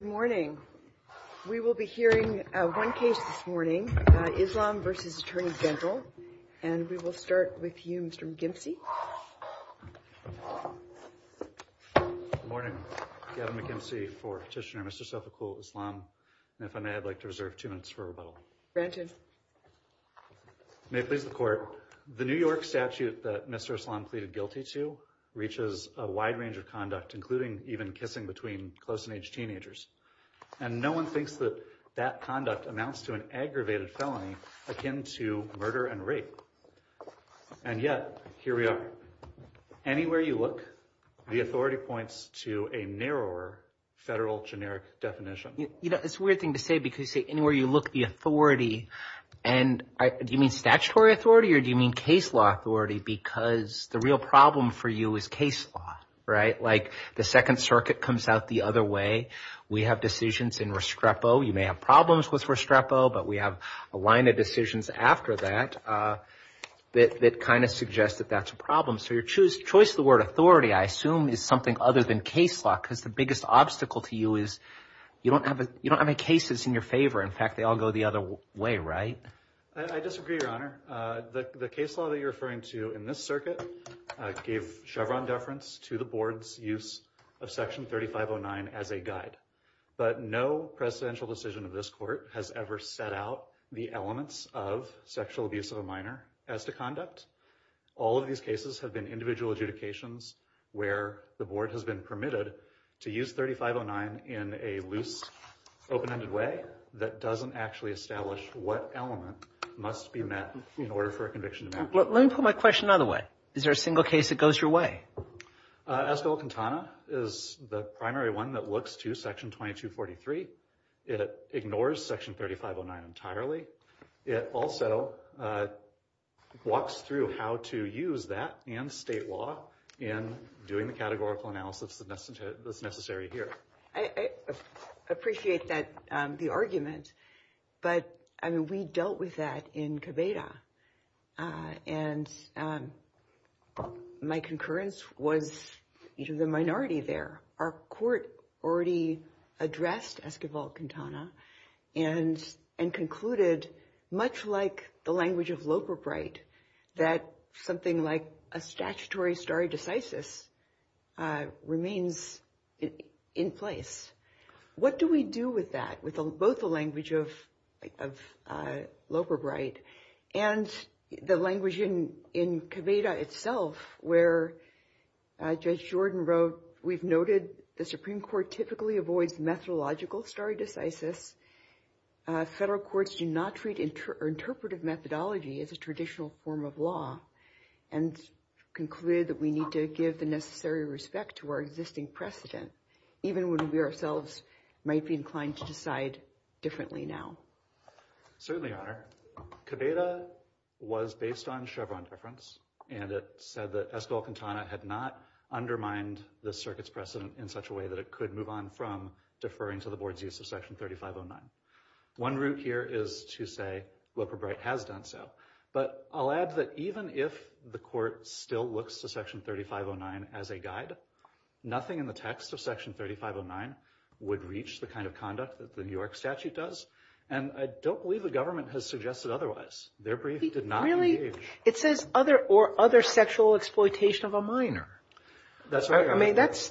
Good morning. We will be hearing one case this morning, Islam vs. Attorney General. And we will start with you, Mr. McKimsey. Good morning. Gavin McKimsey for Petitioner Mr. Self-Approval of Islam. And if I may, I'd like to reserve two minutes for rebuttal. May it please the Court. The New York statute that Mr. Islam pleaded guilty to reaches a wide range of conduct, including even kissing between close-in-age teenagers. And no one thinks that that conduct amounts to an aggravated felony akin to murder and rape. And yet, here we are. Anywhere you look, the authority points to a narrower federal generic definition. You know, it's a weird thing to say because you say, anywhere you look, the authority. And do you mean statutory authority or do you mean case law authority? Because the real problem for you is case law, right? Like the Second Circuit comes out the other way. We have decisions in Restrepo. You may have problems with Restrepo, but we have a line of decisions after that that kind of suggest that that's a problem. So your choice of the word authority, I assume, is something other than case law because the biggest obstacle to you is you don't have any cases in your favor. In fact, they all go the other way, right? I disagree, Your Honor. The case law that you're referring to in this circuit gave Chevron deference to the board's use of Section 3509 as a guide. But no presidential decision of this court has ever set out the elements of sexual abuse of a minor as to conduct. All of these cases have been individual adjudications where the board has been permitted to use 3509 in a loose, open-ended way that doesn't actually establish what element must be met in order for a conviction to matter. Let me put my question another way. Is there a single case that goes your way? Escobar-Quintana is the primary one that looks to Section 2243. It ignores Section 3509 entirely. It also walks through how to use that and state law in doing the categorical analysis that's necessary here. I appreciate the argument, but we dealt with that in Cabeda, and my concurrence was the minority there. Our court already addressed Escobar-Quintana and concluded, much like the language of Loperbright, that something like a statutory stare decisis remains in place. What do we do with that, with both the language of Loperbright and the language in Cabeda itself, where Judge Jordan wrote, We've noted the Supreme Court typically avoids methodological stare decisis. Federal courts do not treat interpretive methodology as a traditional form of law and concluded that we need to give the necessary respect to our existing precedent, even when we ourselves might be inclined to decide differently now. Certainly, Your Honor. Cabeda was based on Chevron deference, and it said that Escobar-Quintana had not undermined the circuit's precedent in such a way that it could move on from deferring to the board's use of Section 3509. One route here is to say Loperbright has done so, but I'll add that even if the court still looks to Section 3509 as a guide, nothing in the text of Section 3509 would reach the kind of conduct that the New York statute does, and I don't believe the government has suggested otherwise. Their brief did not engage. Really? It says, or other sexual exploitation of a minor. That's right, Your Honor. I mean, that's,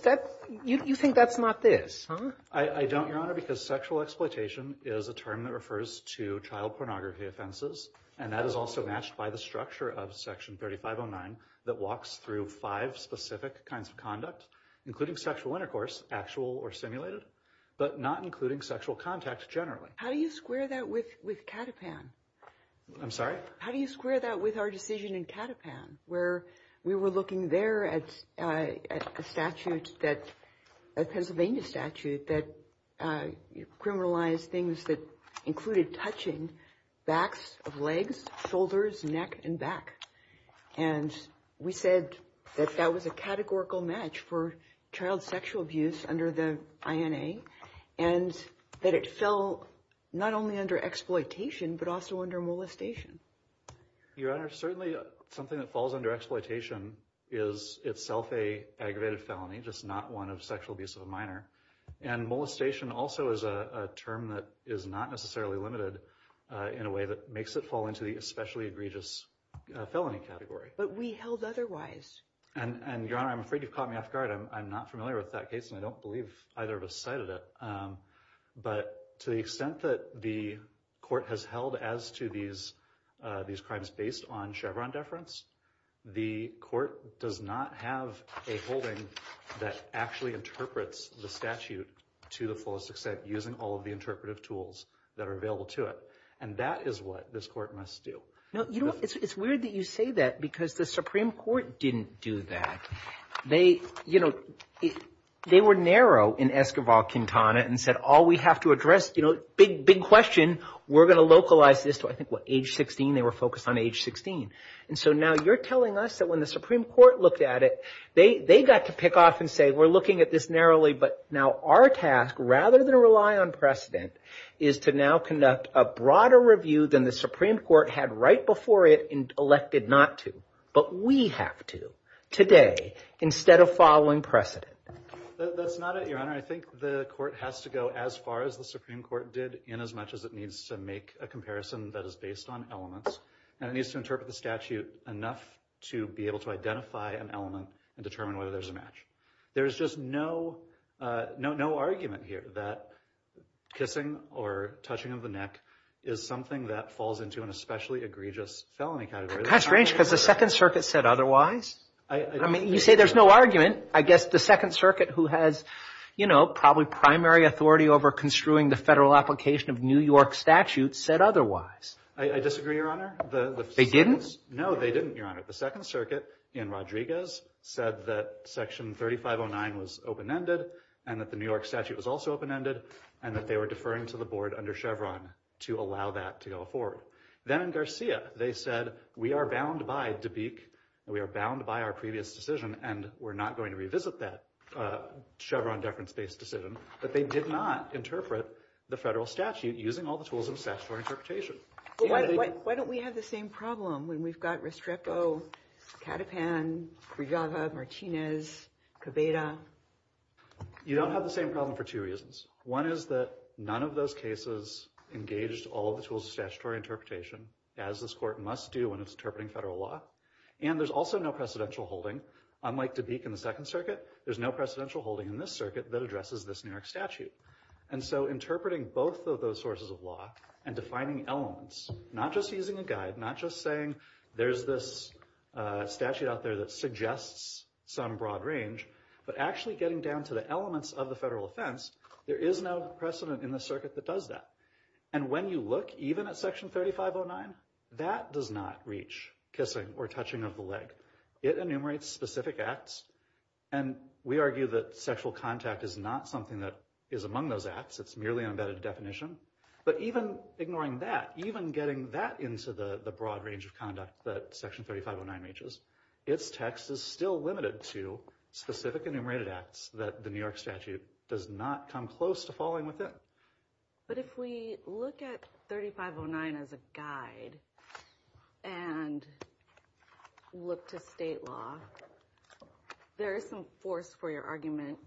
you think that's not this, huh? I don't, Your Honor, because sexual exploitation is a term that refers to child pornography offenses, and that is also matched by the structure of Section 3509 that walks through five specific kinds of conduct, including sexual intercourse, actual or simulated, but not including sexual contact generally. How do you square that with Catapan? I'm sorry? How do you square that with our decision in Catapan, where we were looking there at a statute that, a Pennsylvania statute that criminalized things that included touching backs of legs, shoulders, neck, and back? And we said that that was a categorical match for child sexual abuse under the INA, and that it fell not only under exploitation, but also under molestation. Your Honor, certainly something that falls under exploitation is itself an aggravated felony, just not one of sexual abuse of a minor, and molestation also is a term that is not necessarily limited in a way that makes it fall into the especially egregious felony category. But we held otherwise. And, Your Honor, I'm afraid you've caught me off guard. I'm not familiar with that case, and I don't believe either of us cited it. But to the extent that the court has held as to these crimes based on Chevron deference, the court does not have a holding that actually interprets the statute to the fullest extent using all of the interpretive tools that are available to it. And that is what this court must do. It's weird that you say that because the Supreme Court didn't do that. They, you know, they were narrow in Esquivel-Quintana and said, oh, we have to address, you know, big, big question. We're going to localize this to, I think, what, age 16? They were focused on age 16. And so now you're telling us that when the Supreme Court looked at it, they got to pick off and say, we're looking at this narrowly, but now our task, rather than rely on precedent, is to now conduct a broader review than the Supreme Court had right before it elected not to. But we have to today instead of following precedent. That's not it, Your Honor. I think the court has to go as far as the Supreme Court did in as much as it needs to make a comparison that is based on elements and it needs to interpret the statute enough to be able to identify an element and determine whether there's a match. There is just no argument here that kissing or touching of the neck is something that falls into an especially egregious felony category. That's strange because the Second Circuit said otherwise. I mean, you say there's no argument. I guess the Second Circuit, who has, you know, probably primary authority over construing the federal application of New York statutes, said otherwise. I disagree, Your Honor. They didn't? No, they didn't, Your Honor. The Second Circuit in Rodriguez said that Section 3509 was open-ended and that the New York statute was also open-ended and that they were deferring to the board under Chevron to allow that to go forward. Then in Garcia, they said we are bound by Dubique and we are bound by our previous decision and we're not going to revisit that Chevron-deference-based decision, but they did not interpret the federal statute using all the tools of statutory interpretation. Why don't we have the same problem when we've got Restrepo, Catapan, Briava, Martinez, Cabeda? You don't have the same problem for two reasons. One is that none of those cases engaged all the tools of statutory interpretation as this Court must do when it's interpreting federal law, and there's also no precedential holding. Unlike Dubique in the Second Circuit, there's no precedential holding in this circuit that addresses this New York statute. And so interpreting both of those sources of law and defining elements, not just using a guide, not just saying there's this statute out there that suggests some broad range, but actually getting down to the elements of the federal offense, there is no precedent in the circuit that does that. And when you look even at Section 3509, that does not reach kissing or touching of the leg. It enumerates specific acts, and we argue that sexual contact is not something that is among those acts. It's merely an embedded definition. But even ignoring that, even getting that into the broad range of conduct that Section 3509 reaches, its text is still limited to specific enumerated acts that the New York statute does not come close to falling within. But if we look at 3509 as a guide and look to state law, there is some force for your argument.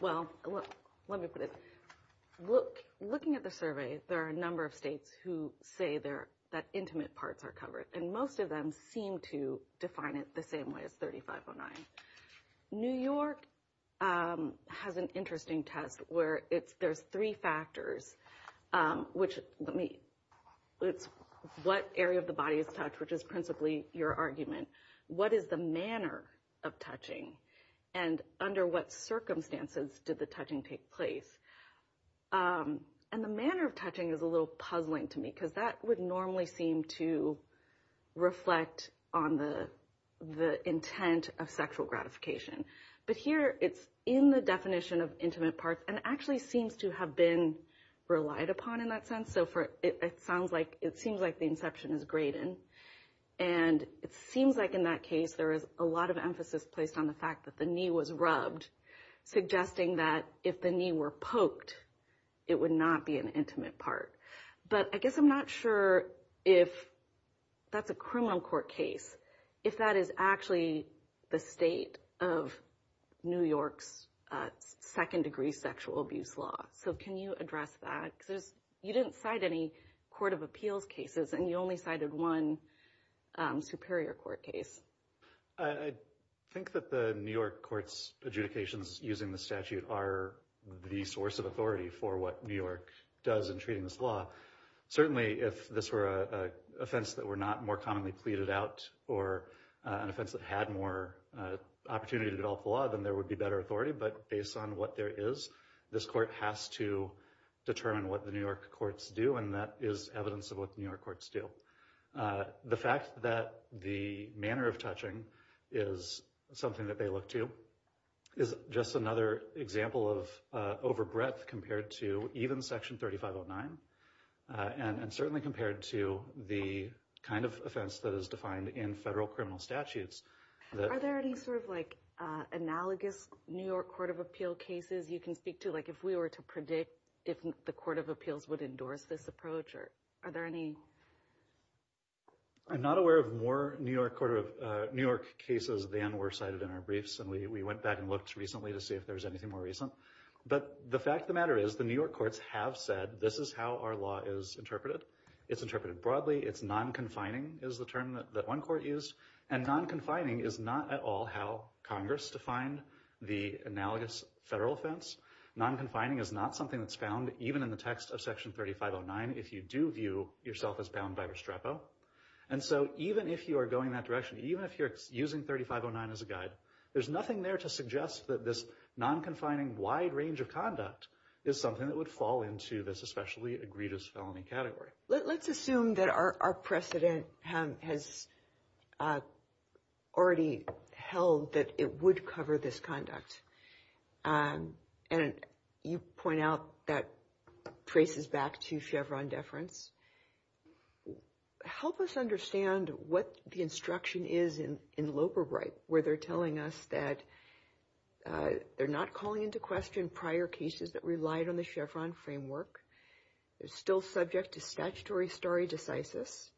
Well, let me put it. Looking at the survey, there are a number of states who say that intimate parts are covered, and most of them seem to define it the same way as 3509. New York has an interesting test where there's three factors, which is what area of the body is touched, which is principally your argument. What is the manner of touching? And under what circumstances did the touching take place? And the manner of touching is a little puzzling to me because that would normally seem to reflect on the intent of sexual gratification. But here, it's in the definition of intimate parts and actually seems to have been relied upon in that sense. It seems like the inception is Graydon. And it seems like in that case, there is a lot of emphasis placed on the fact that the knee was rubbed, suggesting that if the knee were poked, it would not be an intimate part. But I guess I'm not sure if that's a criminal court case, if that is actually the state of New York's second-degree sexual abuse law. So can you address that? You didn't cite any court of appeals cases, and you only cited one superior court case. I think that the New York court's adjudications using the statute are the source of authority for what New York does in treating this law. Certainly, if this were an offense that were not more commonly pleaded out or an offense that had more opportunity to develop the law, then there would be better authority. But based on what there is, this court has to determine what the New York courts do, and that is evidence of what the New York courts do. The fact that the manner of touching is something that they look to is just another example of over breadth compared to even Section 3509, and certainly compared to the kind of offense that is defined in federal criminal statutes. Are there any sort of analogous New York court of appeal cases you can speak to? Like if we were to predict if the court of appeals would endorse this approach, are there any? I'm not aware of more New York cases than were cited in our briefs, and we went back and looked recently to see if there was anything more recent. But the fact of the matter is, the New York courts have said this is how our law is interpreted. It's interpreted broadly. It's non-confining is the term that one court used, and non-confining is not at all how Congress defined the analogous federal offense. Non-confining is not something that's found even in the text of Section 3509 if you do view yourself as bound by Restrepo. And so even if you are going that direction, even if you're using 3509 as a guide, there's nothing there to suggest that this non-confining wide range of conduct is something that would fall into this especially egregious felony category. Let's assume that our precedent has already held that it would cover this conduct. And you point out that traces back to Chevron deference. Help us understand what the instruction is in Loeberright where they're telling us that they're not calling into question prior cases that relied on the Chevron framework. They're still subject to statutory stare decisis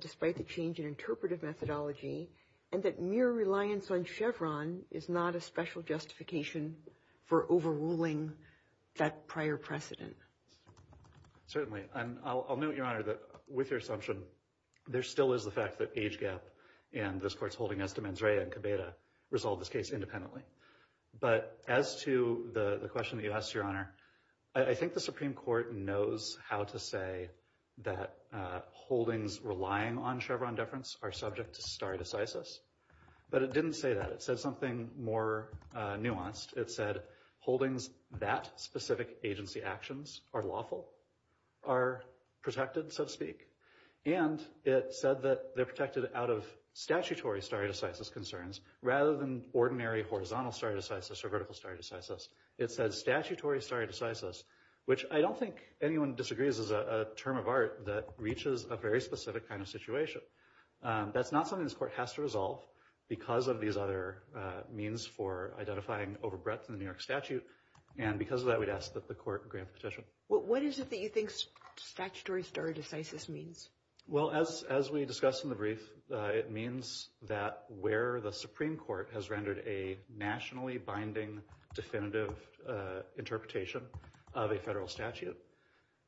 despite the change in interpretive methodology, and that mere reliance on Chevron is not a special justification for overruling that prior precedent. Certainly. And I'll note, Your Honor, that with your assumption, there still is the fact that age gap and this court's holding estimates ready to resolve this case independently. But as to the question that you asked, Your Honor, I think the Supreme Court knows how to say that holdings relying on Chevron deference are subject to stare decisis. But it didn't say that. It said something more nuanced. It said holdings that specific agency actions are lawful, are protected, so to speak. And it said that they're protected out of statutory stare decisis concerns rather than ordinary horizontal stare decisis or vertical stare decisis. It said statutory stare decisis, which I don't think anyone disagrees is a term of art that reaches a very specific kind of situation. That's not something this court has to resolve because of these other means for identifying overbreadth in the New York statute. And because of that, we'd ask that the court grant the petition. What is it that you think statutory stare decisis means? Well, as we discussed in the brief, it means that where the Supreme Court has rendered a nationally binding definitive interpretation of a federal statute,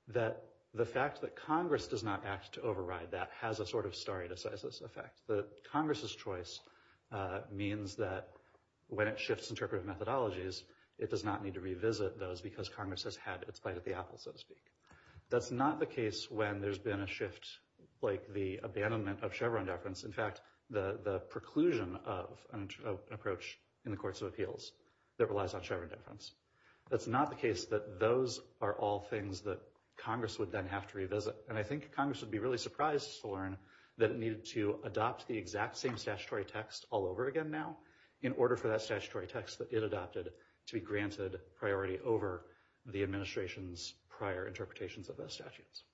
that the fact that Congress does not act to override that has a sort of stare decisis effect. That Congress's choice means that when it shifts interpretive methodologies, it does not need to revisit those because Congress has had its bite at the apple, so to speak. That's not the case when there's been a shift like the abandonment of Chevron deference. In fact, the preclusion of an approach in the courts of appeals that relies on Chevron deference. That's not the case that those are all things that Congress would then have to revisit. And I think Congress would be really surprised to learn that it needed to adopt the exact same statutory text all over again now in order for that statutory text that it adopted to be granted priority over the administration's prior interpretations of those statutes.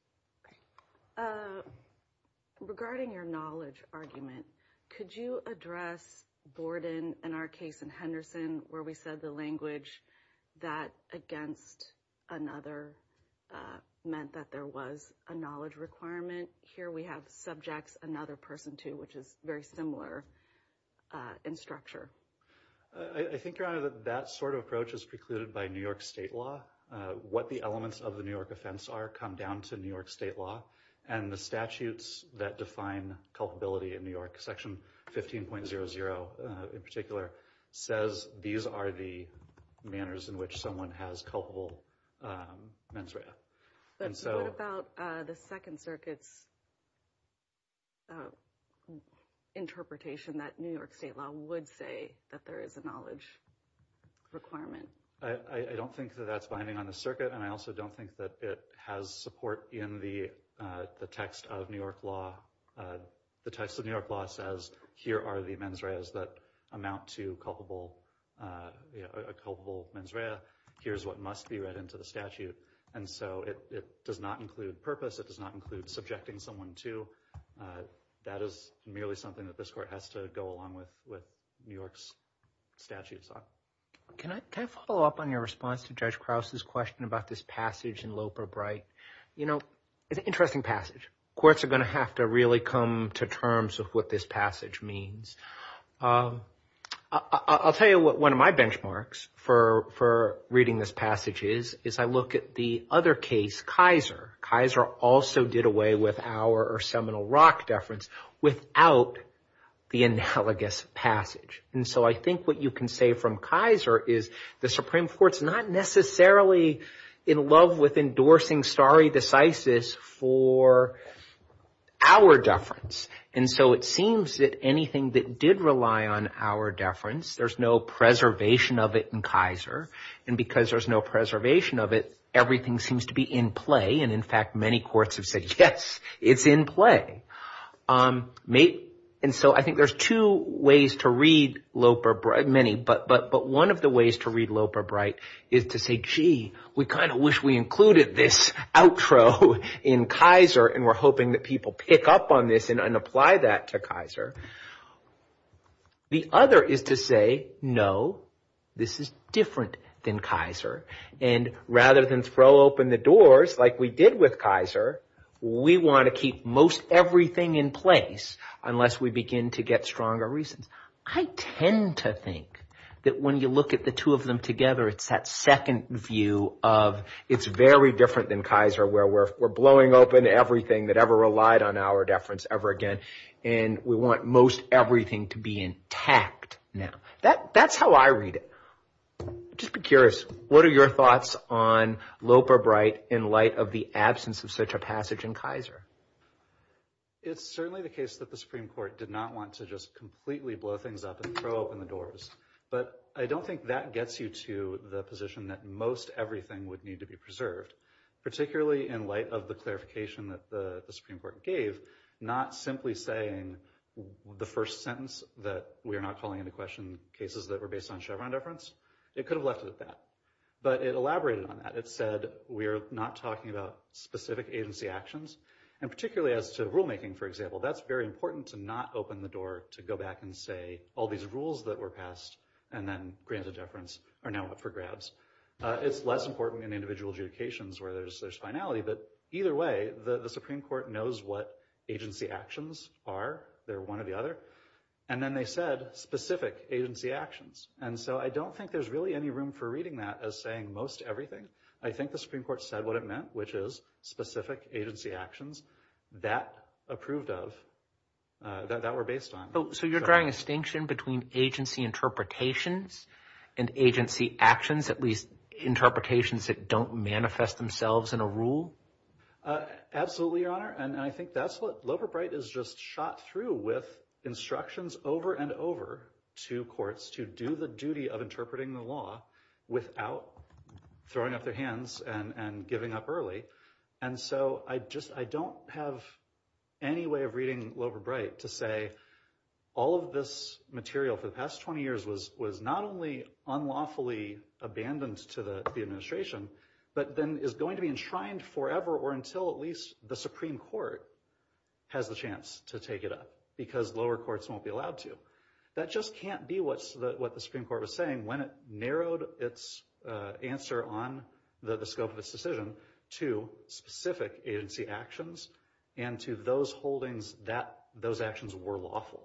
Regarding your knowledge argument, could you address Borden and our case in Henderson where we said the language that against another meant that there was a knowledge requirement? Here we have subjects, another person too, which is very similar in structure. I think, Your Honor, that that sort of approach is precluded by New York state law. What the elements of the New York offense are come down to New York state law. And the statutes that define culpability in New York, section 15.00 in particular, says these are the manners in which someone has culpable mens rea. What about the Second Circuit's interpretation that New York state law would say that there is a knowledge requirement? I don't think that that's binding on the circuit. And I also don't think that it has support in the text of New York law. The text of New York law says, here are the mens reas that amount to culpable mens rea. Here's what must be read into the statute. And so it does not include purpose. It does not include subjecting someone to. That is merely something that this court has to go along with what New York's statutes are. Can I follow up on your response to Judge Krause's question about this passage in Loper Bright? You know, it's an interesting passage. Courts are going to have to really come to terms with what this passage means. I'll tell you what one of my benchmarks for reading this passage is, is I look at the other case, Kaiser. Kaiser also did away with our seminal rock deference without the analogous passage. And so I think what you can say from Kaiser is the Supreme Court's not necessarily in love with endorsing stare decisis for our deference. And so it seems that anything that did rely on our deference, there's no preservation of it in Kaiser. And because there's no preservation of it, everything seems to be in play. And in fact, many courts have said, yes, it's in play. And so I think there's two ways to read Loper Bright, many. But one of the ways to read Loper Bright is to say, gee, we kind of wish we included this outro in Kaiser and we're hoping that people pick up on this and apply that to Kaiser. The other is to say, no, this is different than Kaiser. And rather than throw open the doors like we did with Kaiser, we want to keep most everything in place unless we begin to get stronger reasons. I tend to think that when you look at the two of them together, it's that second view of it's very different than Kaiser where we're blowing open everything that ever relied on our deference ever again and we want most everything to be intact now. That's how I read it. Just be curious, what are your thoughts on Loper Bright in light of the absence of such a passage in Kaiser? It's certainly the case that the Supreme Court did not want to just completely blow things up and throw open the doors. But I don't think that gets you to the position that most everything would need to be preserved, particularly in light of the clarification that the Supreme Court gave, not simply saying the first sentence that we are not calling into question cases that were based on Chevron deference. It could have left it at that. But it elaborated on that. It said we are not talking about specific agency actions. And particularly as to rulemaking, for example, that's very important to not open the door to go back and say all these rules that were passed and then granted deference are now up for grabs. It's less important in individual adjudications where there's finality. But either way, the Supreme Court knows what agency actions are. They're one or the other. And then they said specific agency actions. And so I don't think there's really any room for reading that as saying most everything. I think the Supreme Court said what it meant, which is specific agency actions that approved of, that were based on. So you're drawing a distinction between agency interpretations and agency actions, at least interpretations that don't manifest themselves in a rule? Absolutely, Your Honor. And I think that's what Loverbright has just shot through with instructions over and over to courts to do the duty of interpreting the law without throwing up their hands and giving up early. And so I don't have any way of reading Loverbright to say all of this material for the past 20 years was not only unlawfully abandoned to the administration, but then is going to be enshrined forever or until at least the Supreme Court has the chance to take it up because lower courts won't be allowed to. That just can't be what the Supreme Court was saying when it narrowed its answer on the scope of its decision to specific agency actions and to those holdings that those actions were lawful.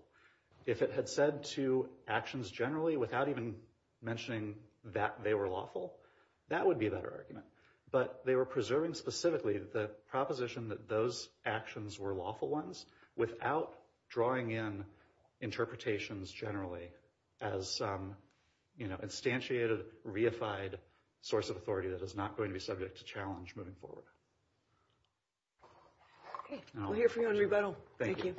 If it had said to actions generally without even mentioning that they were lawful, that would be a better argument. But they were preserving specifically the proposition that those actions were lawful ones without drawing in interpretations generally as instantiated, reified source of authority that is not going to be subject to challenge moving forward. Okay, we'll hear from you on rebuttal. Thank you.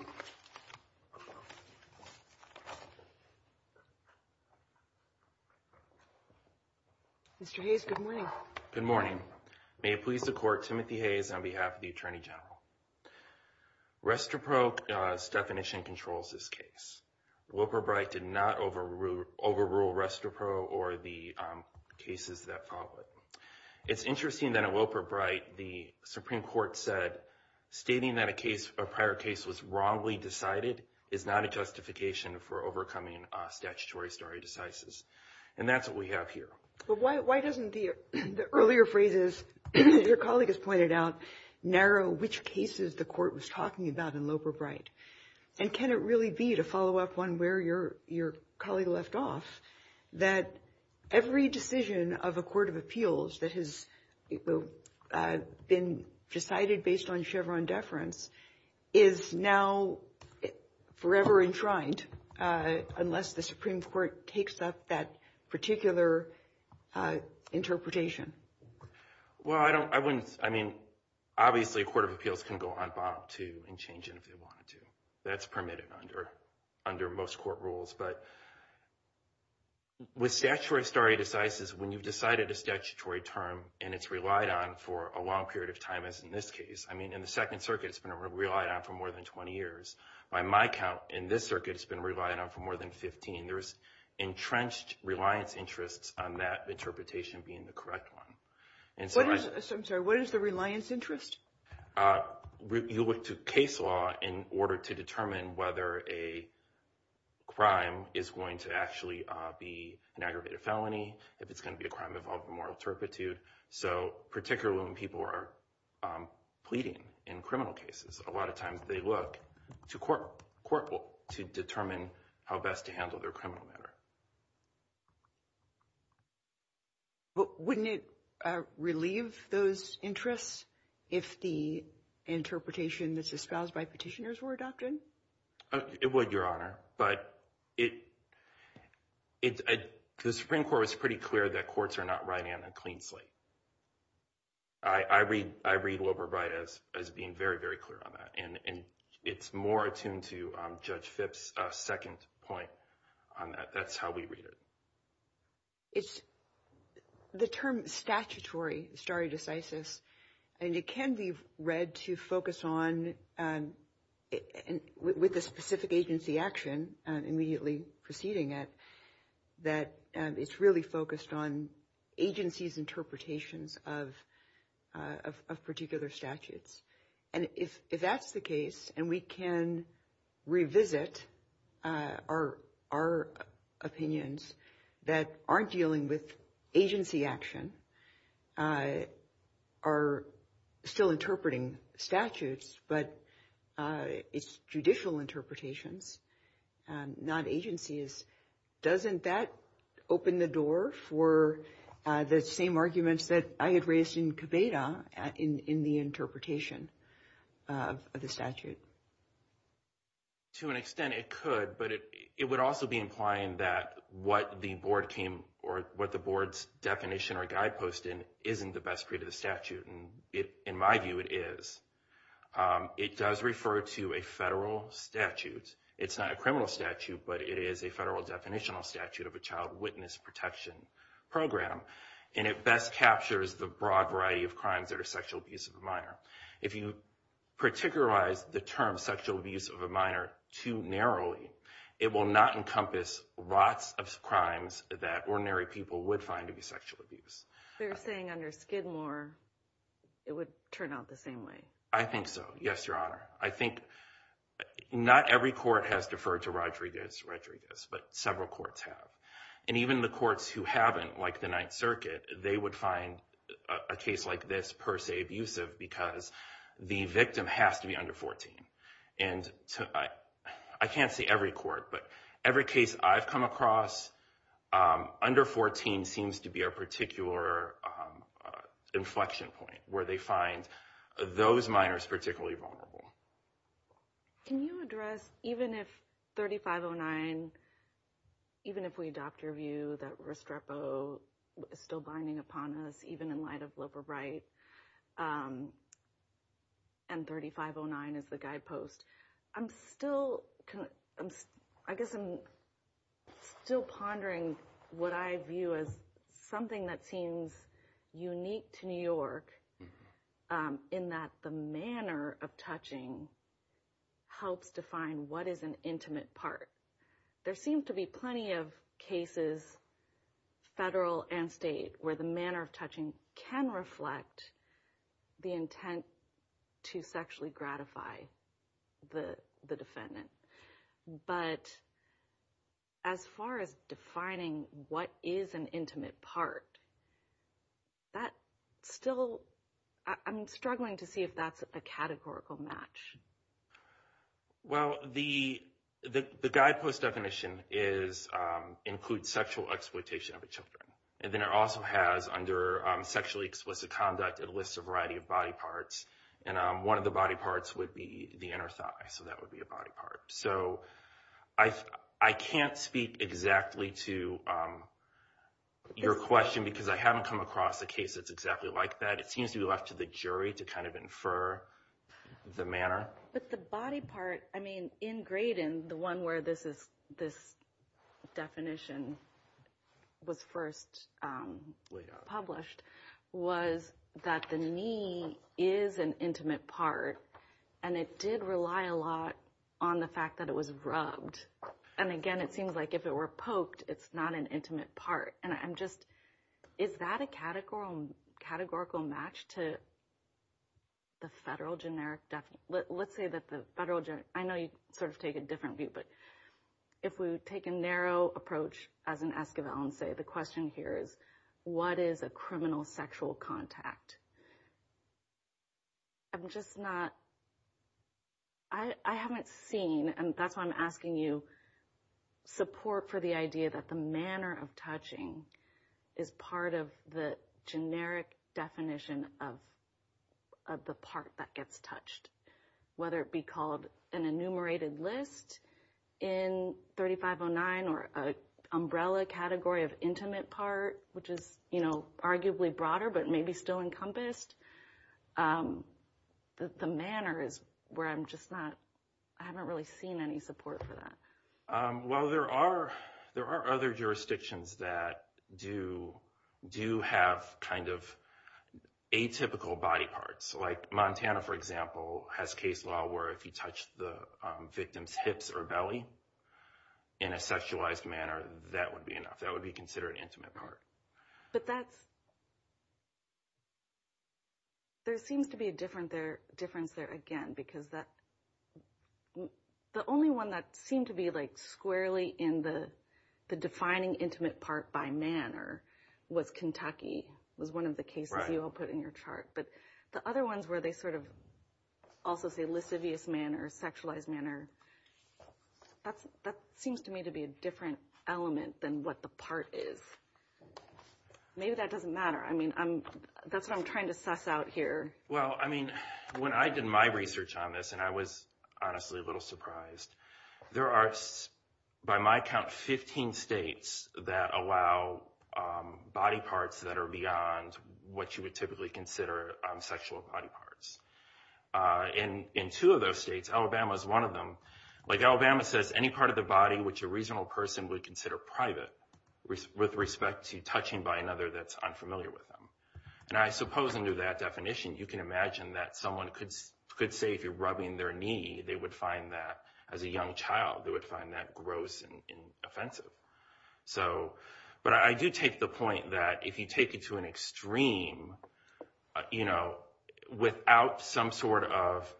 Mr. Hayes, good morning. Good morning. May it please the Court, Timothy Hayes on behalf of the Attorney General. Restrepo's definition controls this case. Wilbur Bright did not overrule Restrepo or the cases that followed. It's interesting that in Wilbur Bright, the Supreme Court said stating that a prior case was wrongly decided is not a justification for overcoming statutory stare decisis. And that's what we have here. But why doesn't the earlier phrases that your colleague has pointed out narrow which cases the Court was talking about in Wilbur Bright? And can it really be, to follow up on where your colleague left off, that every decision of a court of appeals that has been decided based on Chevron deference is now forever enshrined unless the Supreme Court takes up that particular interpretation? Well, I wouldn't, I mean, obviously a court of appeals can go on bond too and change it if they wanted to. That's permitted under most court rules. But with statutory stare decisis, when you've decided a statutory term and it's relied on for a long period of time, as in this case, I mean, in the Second Circuit, it's been relied on for more than 20 years. By my count, in this circuit, it's been relied on for more than 15. There's entrenched reliance interests on that interpretation being the correct one. I'm sorry, what is the reliance interest? You look to case law in order to determine whether a crime is going to actually be an aggravated felony, if it's going to be a crime of moral turpitude. So particularly when people are pleading in criminal cases, a lot of times they look to court to determine how best to handle their criminal matter. But wouldn't it relieve those interests if the interpretation that's espoused by petitioners were adopted? It would, Your Honor. But the Supreme Court was pretty clear that courts are not riding on a clean slate. I read Wilbur Wright as being very, very clear on that, and it's more attuned to Judge Phipps' second point on that. That's how we read it. It's the term statutory stare decisis, and it can be read to focus on, with the specific agency action immediately preceding it, that it's really focused on agencies' interpretations of particular statutes. And if that's the case, and we can revisit our opinions that aren't dealing with agency action, are still interpreting statutes, but it's judicial interpretations, not agencies, doesn't that open the door for the same arguments that I had raised in Cabeda in the interpretation of the statute? To an extent it could, but it would also be implying that what the board came, or what the board's definition or guidepost in isn't the best read of the statute, and in my view it is. It does refer to a federal statute. It's not a criminal statute, but it is a federal definitional statute of a child witness protection program, and it best captures the broad variety of crimes that are sexual abuse of a minor. If you particularize the term sexual abuse of a minor too narrowly, it will not encompass lots of crimes that ordinary people would find to be sexual abuse. They're saying under Skidmore it would turn out the same way. I think so, yes, Your Honor. I think not every court has deferred to Rodriguez, Rodriguez, but several courts have, and even the courts who haven't, like the Ninth Circuit, they would find a case like this per se abusive because the victim has to be under 14. I can't say every court, but every case I've come across under 14 seems to be a particular inflection point where they find those minors particularly vulnerable. Can you address, even if 3509, even if we adopt your view that Restrepo is still binding upon us, even in light of Loeb or Wright, and 3509 is the guidepost, I guess I'm still pondering what I view as something that seems unique to New York in that the manner of touching helps define what is an intimate part. There seem to be plenty of cases, federal and state, where the manner of touching can reflect the intent to sexually gratify the defendant. But as far as defining what is an intimate part, that still, I'm struggling to see if that's a categorical match. Well, the guidepost definition includes sexual exploitation of children, and then it also has, under sexually explicit conduct, it lists a variety of body parts, and one of the body parts would be the inner thigh, so that would be a body part. So I can't speak exactly to your question because I haven't come across a case that's exactly like that. It seems to be left to the jury to kind of infer the manner. But the body part, I mean, in Graydon, the one where this definition was first published, was that the knee is an intimate part, and it did rely a lot on the fact that it was rubbed. And again, it seems like if it were poked, it's not an intimate part. And I'm just, is that a categorical match to the federal generic definition? Let's say that the federal generic, I know you sort of take a different view, but if we take a narrow approach, as an Esquivel would say, the question here is, what is a criminal sexual contact? I'm just not, I haven't seen, and that's why I'm asking you, support for the idea that the manner of touching is part of the generic definition of the part that gets touched, whether it be called an enumerated list in 3509 or an umbrella category of intimate part, which is arguably broader, but maybe still encompassed. The manner is where I'm just not, I haven't really seen any support for that. Well, there are other jurisdictions that do have kind of atypical body parts. Like Montana, for example, has case law where if you touch the victim's hips or belly in a sexualized manner, that would be enough. That would be considered an intimate part. But that's, there seems to be a difference there again, because the only one that seemed to be like squarely in the defining intimate part by manner was Kentucky, was one of the cases you all put in your chart. But the other ones where they sort of also say lascivious manner, sexualized manner, that seems to me to be a different element than what the part is. Maybe that doesn't matter. I mean, that's what I'm trying to suss out here. Well, I mean, when I did my research on this, and I was honestly a little surprised, there are, by my count, 15 states that allow body parts that are beyond what you would typically consider sexual body parts. In two of those states, Alabama is one of them. Like Alabama says, any part of the body which a reasonable person would consider private with respect to touching by another that's unfamiliar with them. And I suppose under that definition, you can imagine that someone could say if you're rubbing their knee, they would find that, as a young child, they would find that gross and offensive. But I do take the point that if you take it to an extreme, without some sort of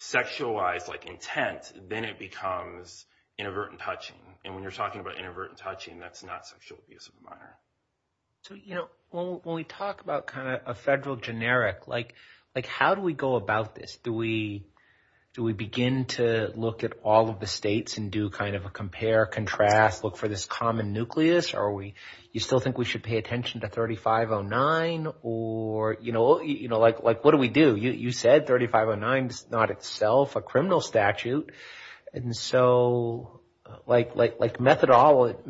sexualized intent, then it becomes inadvertent touching. And when you're talking about inadvertent touching, that's not sexual abuse of a manner. So when we talk about kind of a federal generic, like how do we go about this? Do we begin to look at all of the states and do kind of a compare, contrast, look for this common nucleus? Or you still think we should pay attention to 3509? Or, you know, like what do we do? You said 3509 is not itself a criminal statute. And so like methodologically,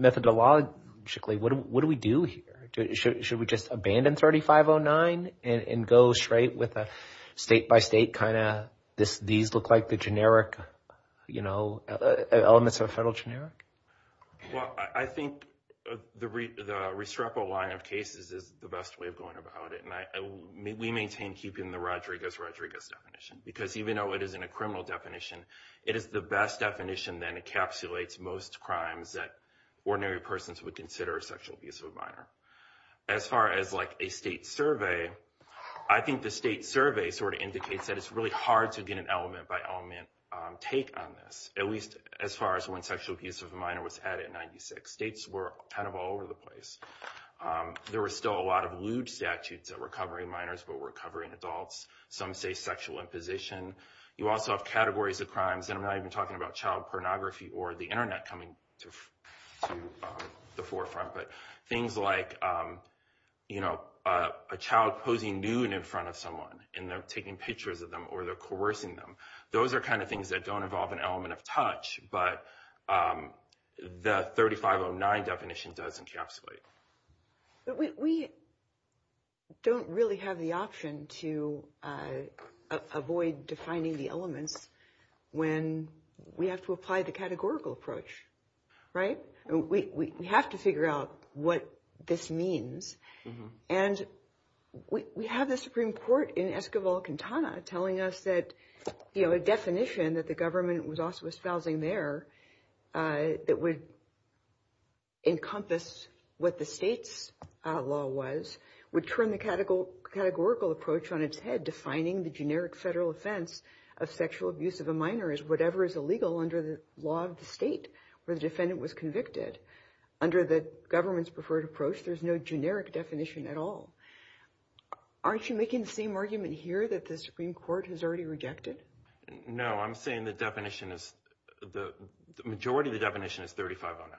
what do we do here? Should we just abandon 3509 and go straight with a state-by-state kind of, these look like the generic, you know, elements of a federal generic? Well, I think the Restrepo line of cases is the best way of going about it. And we maintain keeping the Rodriguez-Rodriguez definition, because even though it isn't a criminal definition, it is the best definition that encapsulates most crimes that ordinary persons would consider sexual abuse of a minor. As far as like a state survey, I think the state survey sort of indicates that it's really hard to get an element-by-element take on this, at least as far as when sexual abuse of a minor was had in 96. States were kind of all over the place. There were still a lot of lewd statutes that were covering minors but were covering adults. Some say sexual imposition. You also have categories of crimes, and I'm not even talking about child pornography or the Internet coming to the forefront, but things like, you know, a child posing nude in front of someone and they're taking pictures of them or they're coercing them. Those are kind of things that don't involve an element of touch, but the 3509 definition does encapsulate. We don't really have the option to avoid defining the elements when we have to apply the categorical approach, right? We have to figure out what this means, and we have the Supreme Court in Esquivel-Quintana telling us that, you know, a definition that the government was also espousing there that would encompass what the state's law was would turn the categorical approach on its head, and defining the generic federal offense of sexual abuse of a minor is whatever is illegal under the law of the state where the defendant was convicted. Under the government's preferred approach, there's no generic definition at all. Aren't you making the same argument here that the Supreme Court has already rejected? No, I'm saying the definition is the majority of the definition is 3509.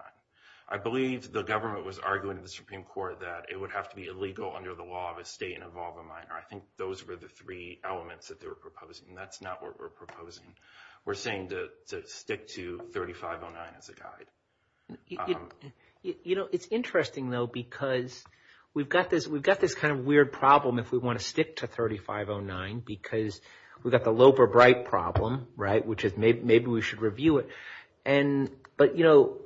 I believe the government was arguing in the Supreme Court that it would have to be illegal under the law of a state and involve a minor. I think those were the three elements that they were proposing. That's not what we're proposing. We're saying to stick to 3509 as a guide. You know, it's interesting, though, because we've got this kind of weird problem if we want to stick to 3509 because we've got the Lope or Bright problem, right, which is maybe we should review it. But, you know,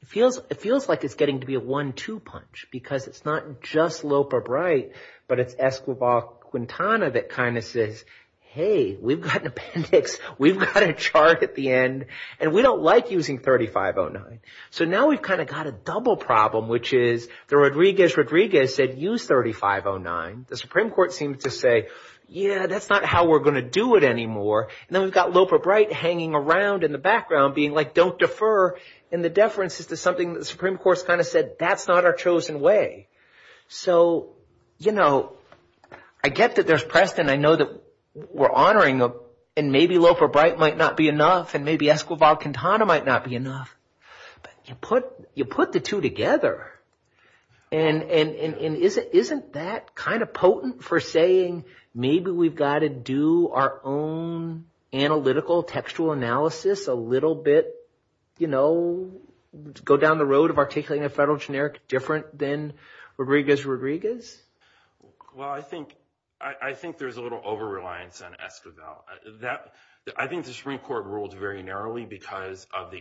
it feels like it's getting to be a one-two punch because it's not just Lope or Bright, but it's Escobar-Quintana that kind of says, hey, we've got an appendix. We've got a chart at the end, and we don't like using 3509. So now we've kind of got a double problem, which is the Rodriguez-Rodriguez said, use 3509. The Supreme Court seemed to say, yeah, that's not how we're going to do it anymore. And then we've got Lope or Bright hanging around in the background being like, don't defer. And the deference is to something the Supreme Court has kind of said, that's not our chosen way. So, you know, I get that there's precedent. I know that we're honoring, and maybe Lope or Bright might not be enough, and maybe Escobar-Quintana might not be enough. But you put the two together. And isn't that kind of potent for saying maybe we've got to do our own analytical, textual analysis, a little bit, you know, go down the road of articulating a federal generic different than Rodriguez-Rodriguez? Well, I think there's a little over-reliance on Escobar. I think the Supreme Court ruled very narrowly because of the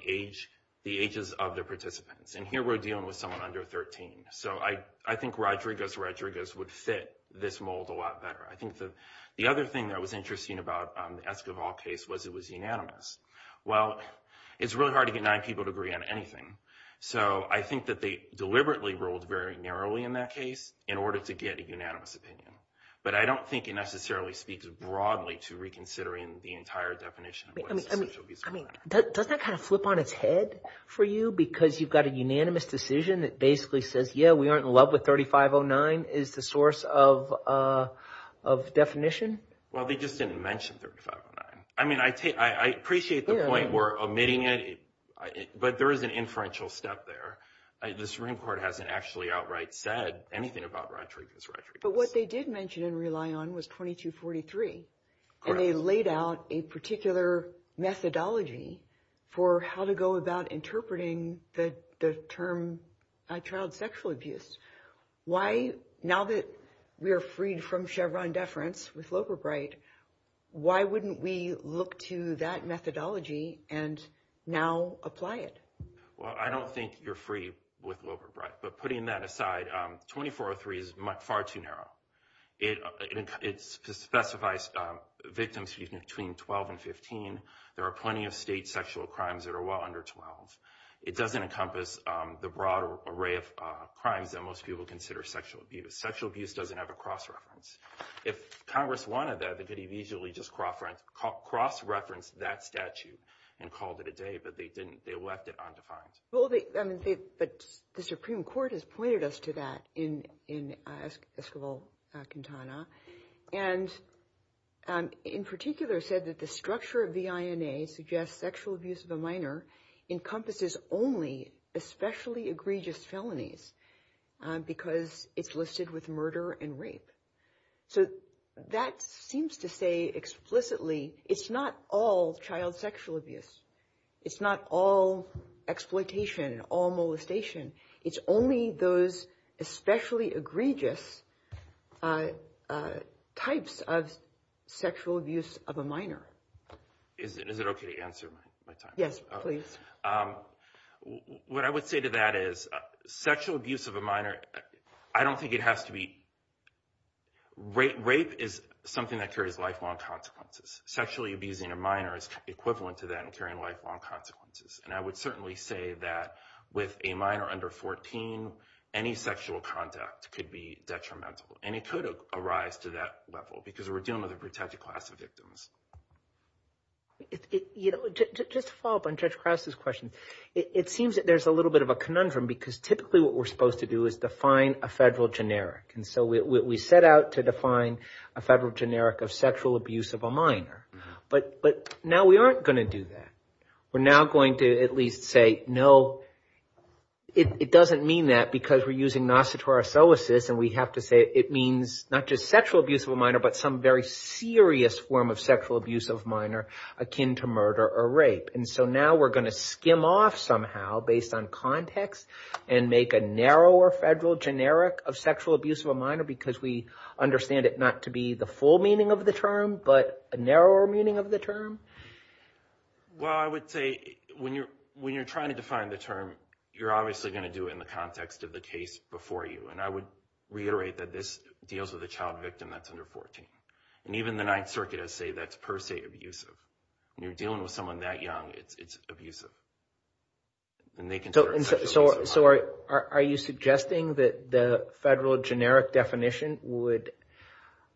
ages of the participants. And here we're dealing with someone under 13. So I think Rodriguez-Rodriguez would fit this mold a lot better. I think the other thing that was interesting about the Escobar case was it was unanimous. Well, it's really hard to get nine people to agree on anything. So I think that they deliberately ruled very narrowly in that case in order to get a unanimous opinion. But I don't think it necessarily speaks broadly to reconsidering the entire definition. I mean, doesn't that kind of flip on its head for you because you've got a unanimous decision that basically says, yeah, we aren't in love with 3509 is the source of definition? Well, they just didn't mention 3509. I mean, I appreciate the point we're omitting it, but there is an inferential step there. The Supreme Court hasn't actually outright said anything about Rodriguez-Rodriguez. But what they did mention in Rely On was 2243. And they laid out a particular methodology for how to go about interpreting the term child sexual abuse. Why now that we are freed from Chevron deference with Loper Bright, why wouldn't we look to that methodology and now apply it? Well, I don't think you're free with Loper Bright. But putting that aside, 2403 is far too narrow. It specifies victims between 12 and 15. There are plenty of state sexual crimes that are well under 12. It doesn't encompass the broader array of crimes that most people consider sexual abuse. Sexual abuse doesn't have a cross-reference. If Congress wanted that, they could have easily just cross-referenced that statute and called it a day. But they didn't. They left it undefined. But the Supreme Court has pointed us to that in Escobar-Quintana. And in particular said that the structure of the V.I.N.A. suggests sexual abuse of a minor encompasses only especially egregious felonies because it's listed with murder and rape. So that seems to say explicitly it's not all child sexual abuse. It's not all exploitation, all molestation. It's only those especially egregious types of sexual abuse of a minor. Is it okay to answer my time? Yes, please. What I would say to that is sexual abuse of a minor, I don't think it has to be – rape is something that carries lifelong consequences. Sexually abusing a minor is equivalent to that and carrying lifelong consequences. And I would certainly say that with a minor under 14, any sexual conduct could be detrimental. And it could arise to that level because we're dealing with a protected class of victims. Just to follow up on Judge Krause's question, it seems that there's a little bit of a conundrum because typically what we're supposed to do is define a federal generic. And so we set out to define a federal generic of sexual abuse of a minor. But now we aren't going to do that. We're now going to at least say no, it doesn't mean that because we're using nosoterosoesis and we have to say it means not just sexual abuse of a minor, but some very serious form of sexual abuse of a minor akin to murder or rape. And so now we're going to skim off somehow based on context and make a narrower federal generic of sexual abuse of a minor because we understand it not to be the full meaning of the term, but a narrower meaning of the term. Well, I would say when you're trying to define the term, you're obviously going to do it in the context of the case before you. And I would reiterate that this deals with a child victim that's under 14. And even the Ninth Circuit has said that's per se abusive. When you're dealing with someone that young, it's abusive. So are you suggesting that the federal generic definition would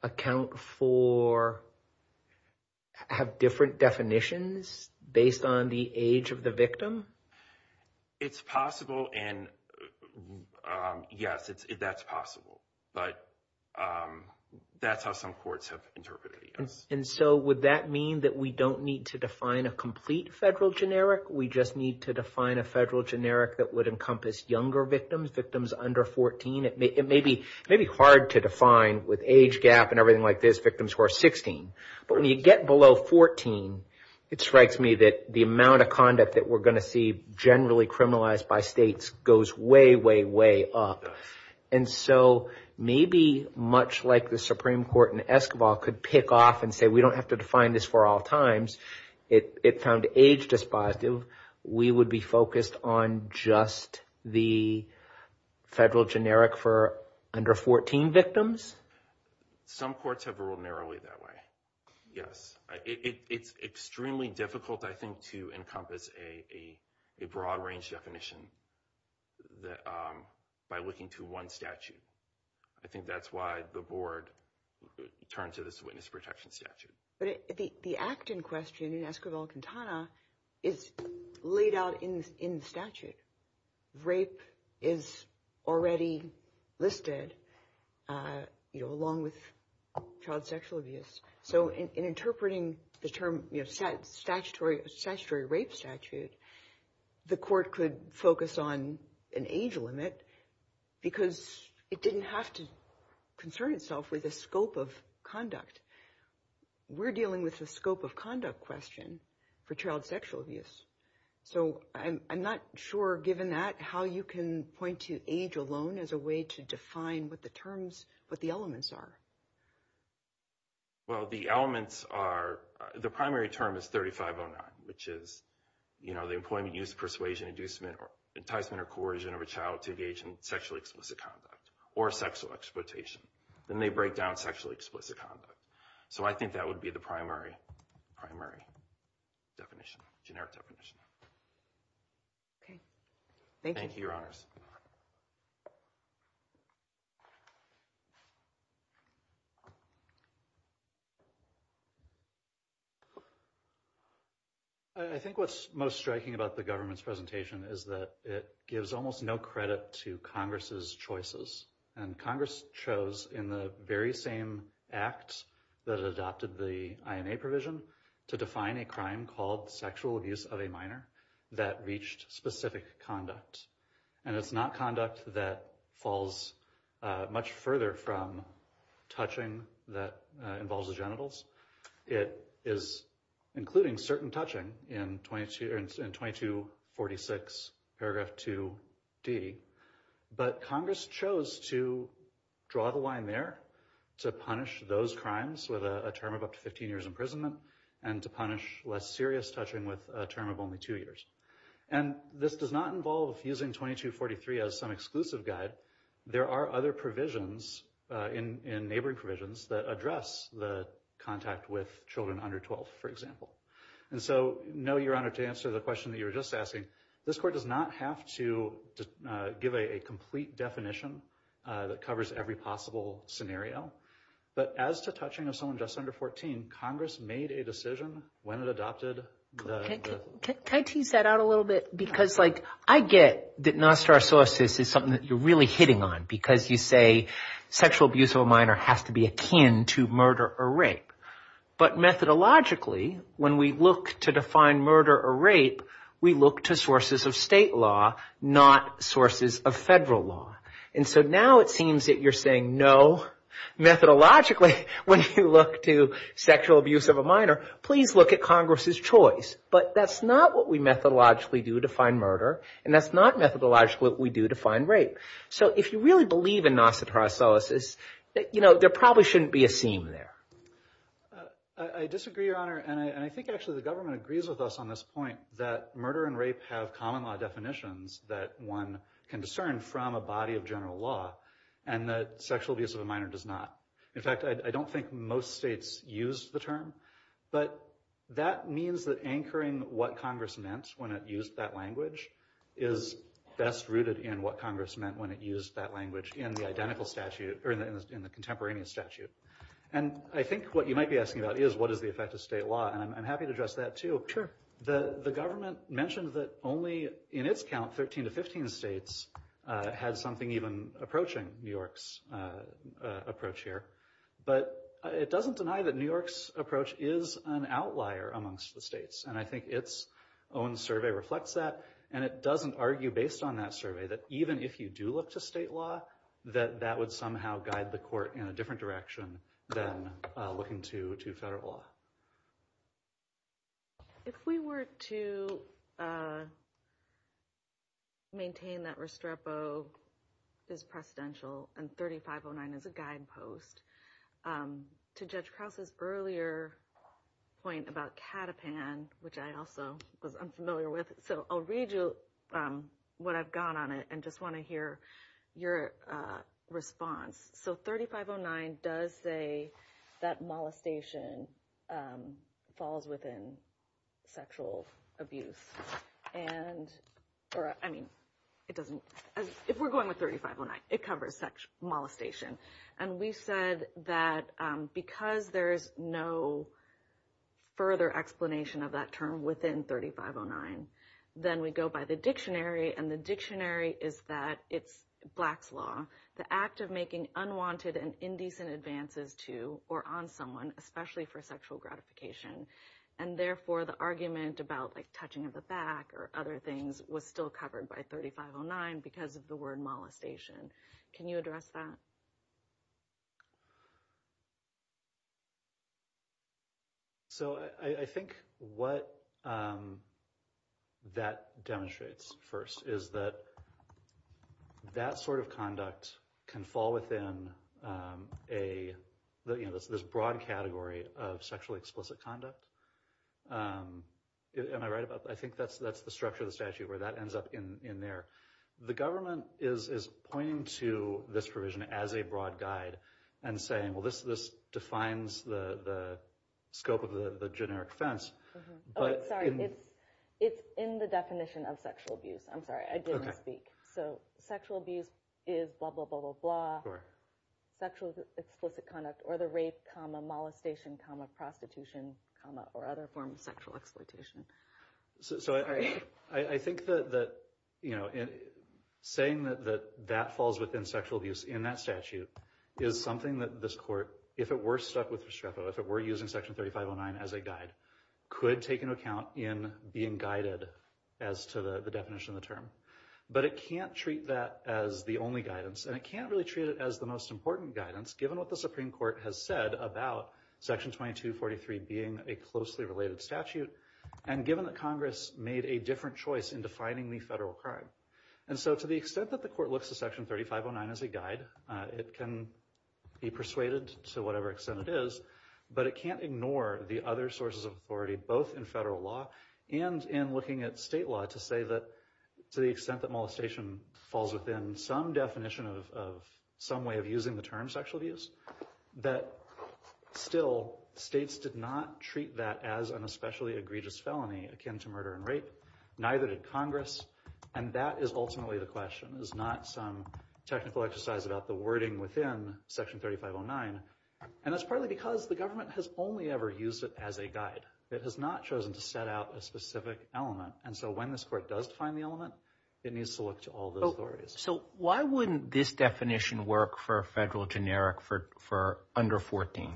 account for, have different definitions based on the age of the victim? It's possible, and yes, that's possible. But that's how some courts have interpreted it, yes. And so would that mean that we don't need to define a complete federal generic? We just need to define a federal generic that would encompass younger victims, victims under 14? It may be hard to define with age gap and everything like this victims who are 16. But when you get below 14, it strikes me that the amount of conduct that we're going to see generally criminalized by states goes way, way, way up. And so maybe much like the Supreme Court in Escobar could pick off and say we don't have to define this for all times, it found age dispositive. We would be focused on just the federal generic for under 14 victims? Some courts have ruled narrowly that way, yes. It's extremely difficult, I think, to encompass a broad range definition by looking to one statute. I think that's why the board turned to this witness protection statute. But the act in question in Escobar-Quintana is laid out in the statute. Rape is already listed along with child sexual abuse. So in interpreting the term statutory rape statute, the court could focus on an age limit because it didn't have to concern itself with the scope of conduct. We're dealing with the scope of conduct question for child sexual abuse. So I'm not sure, given that, how you can point to age alone as a way to define what the terms, what the elements are. Well, the elements are, the primary term is 3509, which is, you know, the employment use, persuasion, inducement, or enticement or coercion of a child to engage in sexually explicit conduct or sexual exploitation. Then they break down sexually explicit conduct. So I think that would be the primary definition, generic definition. Okay. Thank you. Thank you, Your Honors. I think what's most striking about the government's presentation is that it gives almost no credit to Congress's choices. And Congress chose in the very same act that adopted the INA provision to define a crime called sexual abuse of a minor that reached specific conduct. And it's not conduct that falls much further from touching that involves the genitals. It is including certain touching in 2246 paragraph 2D. But Congress chose to draw the line there to punish those crimes with a term of up to 15 years imprisonment and to punish less serious touching with a term of only two years. And this does not involve using 2243 as some exclusive guide. There are other provisions in neighboring provisions that address the contact with children under 12, for example. And so, no, Your Honor, to answer the question that you were just asking, this Court does not have to give a complete definition that covers every possible scenario. But as to touching of someone just under 14, Congress made a decision when it adopted the… Can I tease that out a little bit? Because, like, I get that non-star source is something that you're really hitting on because you say sexual abuse of a minor has to be akin to murder or rape. But methodologically, when we look to define murder or rape, we look to sources of state law, not sources of federal law. And so now it seems that you're saying, no, methodologically, when you look to sexual abuse of a minor, please look at Congress's choice. But that's not what we methodologically do to define murder. And that's not methodologically what we do to define rape. So if you really believe in non-star sources, you know, there probably shouldn't be a scene there. I disagree, Your Honor. And I think actually the government agrees with us on this point that murder and rape have common law definitions that one can discern from a body of general law and that sexual abuse of a minor does not. In fact, I don't think most states use the term. But that means that anchoring what Congress meant when it used that language is best rooted in what Congress meant when it used that language in the identical statute or in the contemporaneous statute. And I think what you might be asking about is, what is the effect of state law? And I'm happy to address that, too. The government mentioned that only in its count, 13 to 15 states had something even approaching New York's approach here. But it doesn't deny that New York's approach is an outlier amongst the states. And I think its own survey reflects that. And it doesn't argue based on that survey that even if you do look to state law, that that would somehow guide the court in a different direction than looking to federal law. If we were to maintain that Restrepo is presidential and 3509 is a guidepost, to Judge Krause's earlier point about Catapan, which I also was unfamiliar with. So I'll read you what I've got on it and just want to hear your response. So 3509 does say that molestation falls within sexual abuse. And I mean, it doesn't if we're going with 3509, it covers sexual molestation. And we said that because there is no further explanation of that term within 3509, then we go by the dictionary. And the dictionary is that it's Black's law, the act of making unwanted and indecent advances to or on someone, especially for sexual gratification. And therefore, the argument about like touching the back or other things was still covered by 3509 because of the word molestation. Can you address that? So I think what that demonstrates first is that that sort of conduct can fall within a broad category of sexually explicit conduct. Am I right about that? I think that's the structure of the statute where that ends up in there. The government is pointing to this provision as a broad guide and saying, well, this defines the scope of the generic fence. But it's in the definition of sexual abuse. I'm sorry I didn't speak. So sexual abuse is blah, blah, blah, blah, blah. For sexual explicit conduct or the rape, comma, molestation, comma, prostitution, comma, or other forms of sexual exploitation. So I think that saying that that falls within sexual abuse in that statute is something that this court, if it were stuck with Restrepo, if it were using Section 3509 as a guide, could take into account in being guided as to the definition of the term. But it can't treat that as the only guidance and it can't really treat it as the most important guidance, given what the Supreme Court has said about Section 2243 being a closely related statute and given that Congress made a different choice in defining the federal crime. And so to the extent that the court looks to Section 3509 as a guide, it can be persuaded to whatever extent it is, but it can't ignore the other sources of authority, both in federal law and in looking at state law, to say that to the extent that molestation falls within some definition of some way of using the term sexual abuse, that still states did not treat that as an especially egregious felony akin to murder and rape, neither did Congress. And that is ultimately the question, is not some technical exercise about the wording within Section 3509. And that's partly because the government has only ever used it as a guide. It has not chosen to set out a specific element. And so when this court does define the element, it needs to look to all those areas. So why wouldn't this definition work for federal generic for under 14?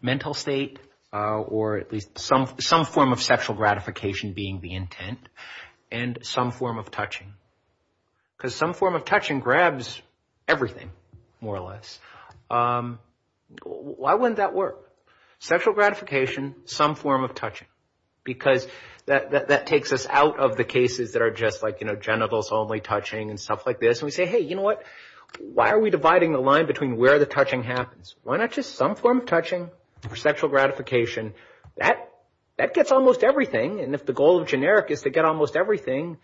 Mental state or at least some form of sexual gratification being the intent and some form of touching? Because some form of touching grabs everything, more or less. Why wouldn't that work? Sexual gratification, some form of touching, because that takes us out of the cases that are just like, you know, genitals only touching and stuff like this. And we say, hey, you know what, why are we dividing the line between where the touching happens? Why not just some form of touching for sexual gratification? That gets almost everything. And if the goal of generic is to get almost everything,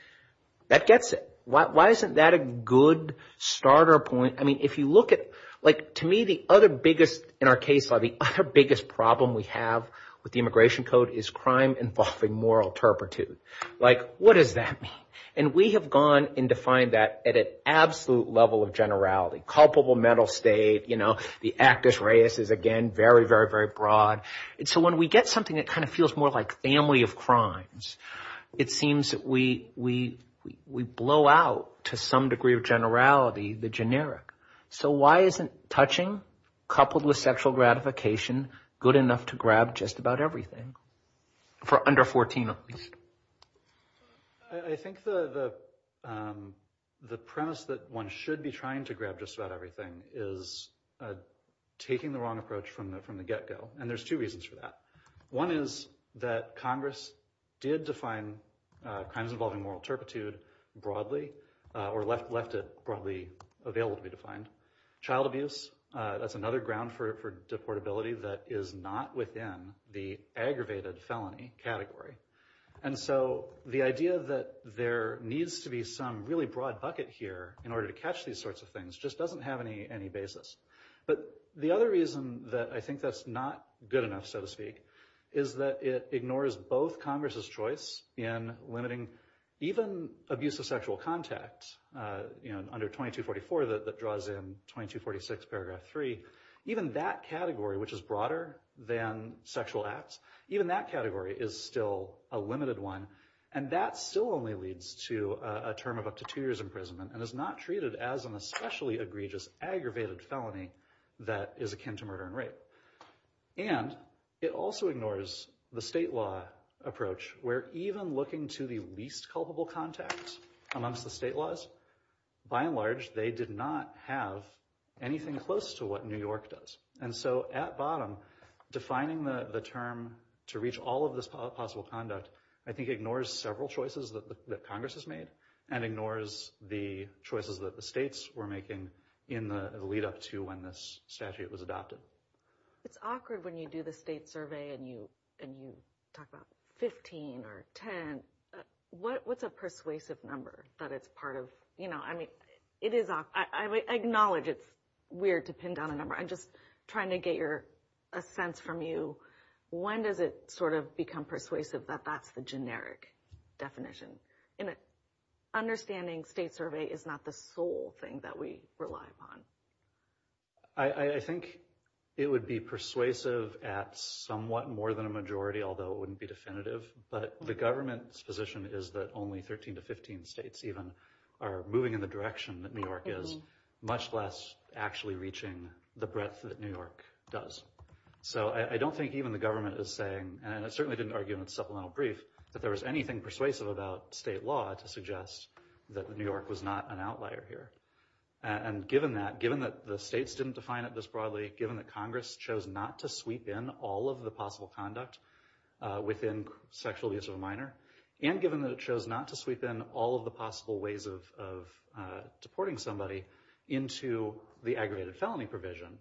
that gets it. Why isn't that a good starter point? I mean, if you look at, like, to me the other biggest, in our case, the other biggest problem we have with the Immigration Code is crime involving moral turpitude. Like, what does that mean? And we have gone and defined that at an absolute level of generality. Culpable mental state, you know, the actus reus is, again, very, very, very broad. And so when we get something that kind of feels more like family of crimes, it seems that we blow out to some degree of generality the generic. So why isn't touching coupled with sexual gratification good enough to grab just about everything? For under 14 at least. I think the premise that one should be trying to grab just about everything is taking the wrong approach from the get-go. And there's two reasons for that. One is that Congress did define crimes involving moral turpitude broadly, or left it broadly available to be defined. Child abuse, that's another ground for deportability that is not within the aggravated felony category. And so the idea that there needs to be some really broad bucket here in order to catch these sorts of things just doesn't have any basis. But the other reason that I think that's not good enough, so to speak, is that it ignores both Congress' choice in limiting even abusive sexual contact. You know, under 2244 that draws in 2246 paragraph 3, even that category, which is broader than sexual acts, even that category is still a limited one. And that still only leads to a term of up to two years imprisonment and is not treated as an especially egregious, aggravated felony that is akin to murder and rape. And it also ignores the state law approach where even looking to the least culpable contacts amongst the state laws, by and large they did not have anything close to what New York does. And so at bottom, defining the term to reach all of this possible conduct, I think ignores several choices that Congress has made and ignores the choices that the states were making in the lead up to when this statute was adopted. It's awkward when you do the state survey and you talk about 15 or 10. What's a persuasive number that it's part of? I acknowledge it's weird to pin down a number. I'm just trying to get a sense from you. When does it sort of become persuasive that that's the generic definition? Understanding state survey is not the sole thing that we rely upon. I think it would be persuasive at somewhat more than a majority, although it wouldn't be definitive, but the government's position is that only 13 to 15 states even are moving in the direction that New York is much less actually reaching the breadth that New York does. So I don't think even the government is saying, and I certainly didn't argue in the supplemental brief, that there was anything persuasive about state law to suggest that New York was not an outlier here. And given that, given that the states didn't define it this broadly, given that Congress chose not to sweep in all of the possible conduct within sexual abuse of a minor, and given that it chose not to sweep in all of the possible ways of deporting somebody into the aggravated felony provision,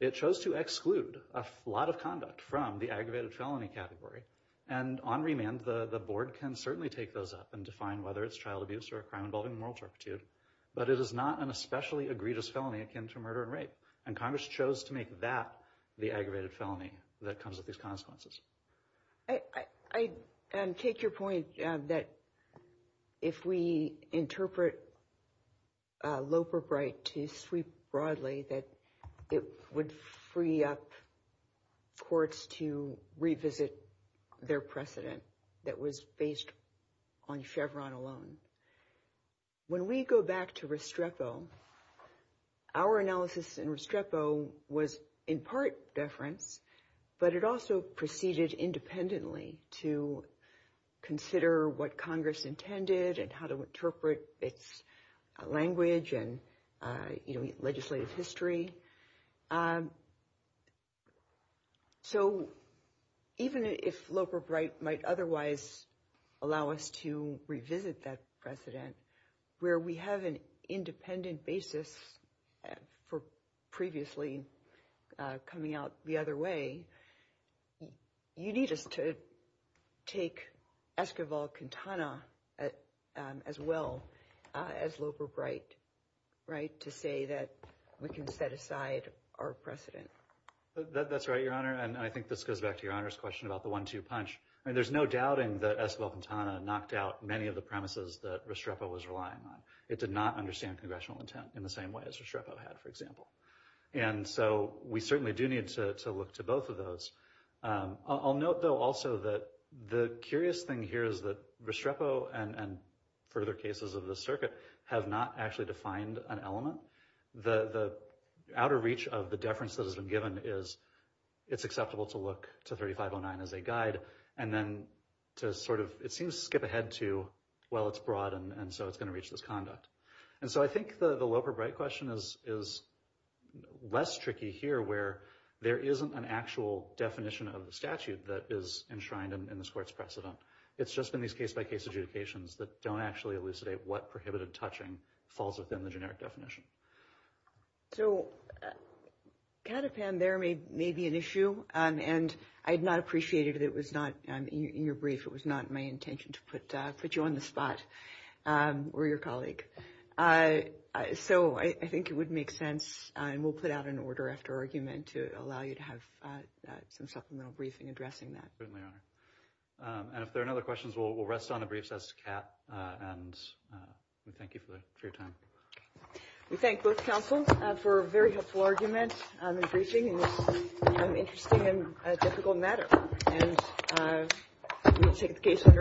it chose to exclude a lot of conduct from the aggravated felony category. And on remand, the board can certainly take those up and define whether it's child abuse or a crime involving moral turpitude, but it is not an especially egregious felony akin to murder and rape. And Congress chose to make that the aggravated felony that comes with these consequences. I take your point that if we interpret Loeb or Bright to sweep broadly, that it would free up courts to revisit their precedent that was based on Chevron alone. When we go back to Restrepo, our analysis in Restrepo was in part deference, but it also proceeded independently to consider what Congress intended and how to interpret its language and legislative history. So even if Loeb or Bright might otherwise allow us to revisit that precedent where we have an independent basis for previously coming out the other way, you need us to take Esquivel-Quintana as well as Loeb or Bright, right? To say that we can set aside our precedent. That's right, Your Honor. And I think this goes back to Your Honor's question about the one-two punch. There's no doubting that Esquivel-Quintana knocked out many of the premises that Restrepo was relying on. It did not understand congressional intent in the same way as Restrepo had, for example. And so we certainly do need to look to both of those. I'll note, though, also that the curious thing here is that Restrepo and further cases of the circuit have not actually defined an element. The outer reach of the deference that has been given is it's acceptable to look to 3509 as a guide and then to sort of, it seems to skip ahead to, well, it's broad and so it's going to reach this conduct. And so I think the Loeb or Bright question is less tricky here where there isn't an actual definition of the statute that is enshrined in this court's precedent. It's just in these case-by-case adjudications that don't actually elucidate what prohibited touching falls within the generic definition. So, Katipan, there may be an issue. And I had not appreciated it was not in your brief. It was not my intention to put you on the spot or your colleague. So I think it would make sense and we'll put out an order after argument to allow you to have some supplemental briefing addressing that. Certainly, Your Honor. And if there are no other questions, we'll rest on the briefs as to Kat. And we thank you for your time. We thank both counsels for a very helpful argument and briefing in this interesting and difficult matter.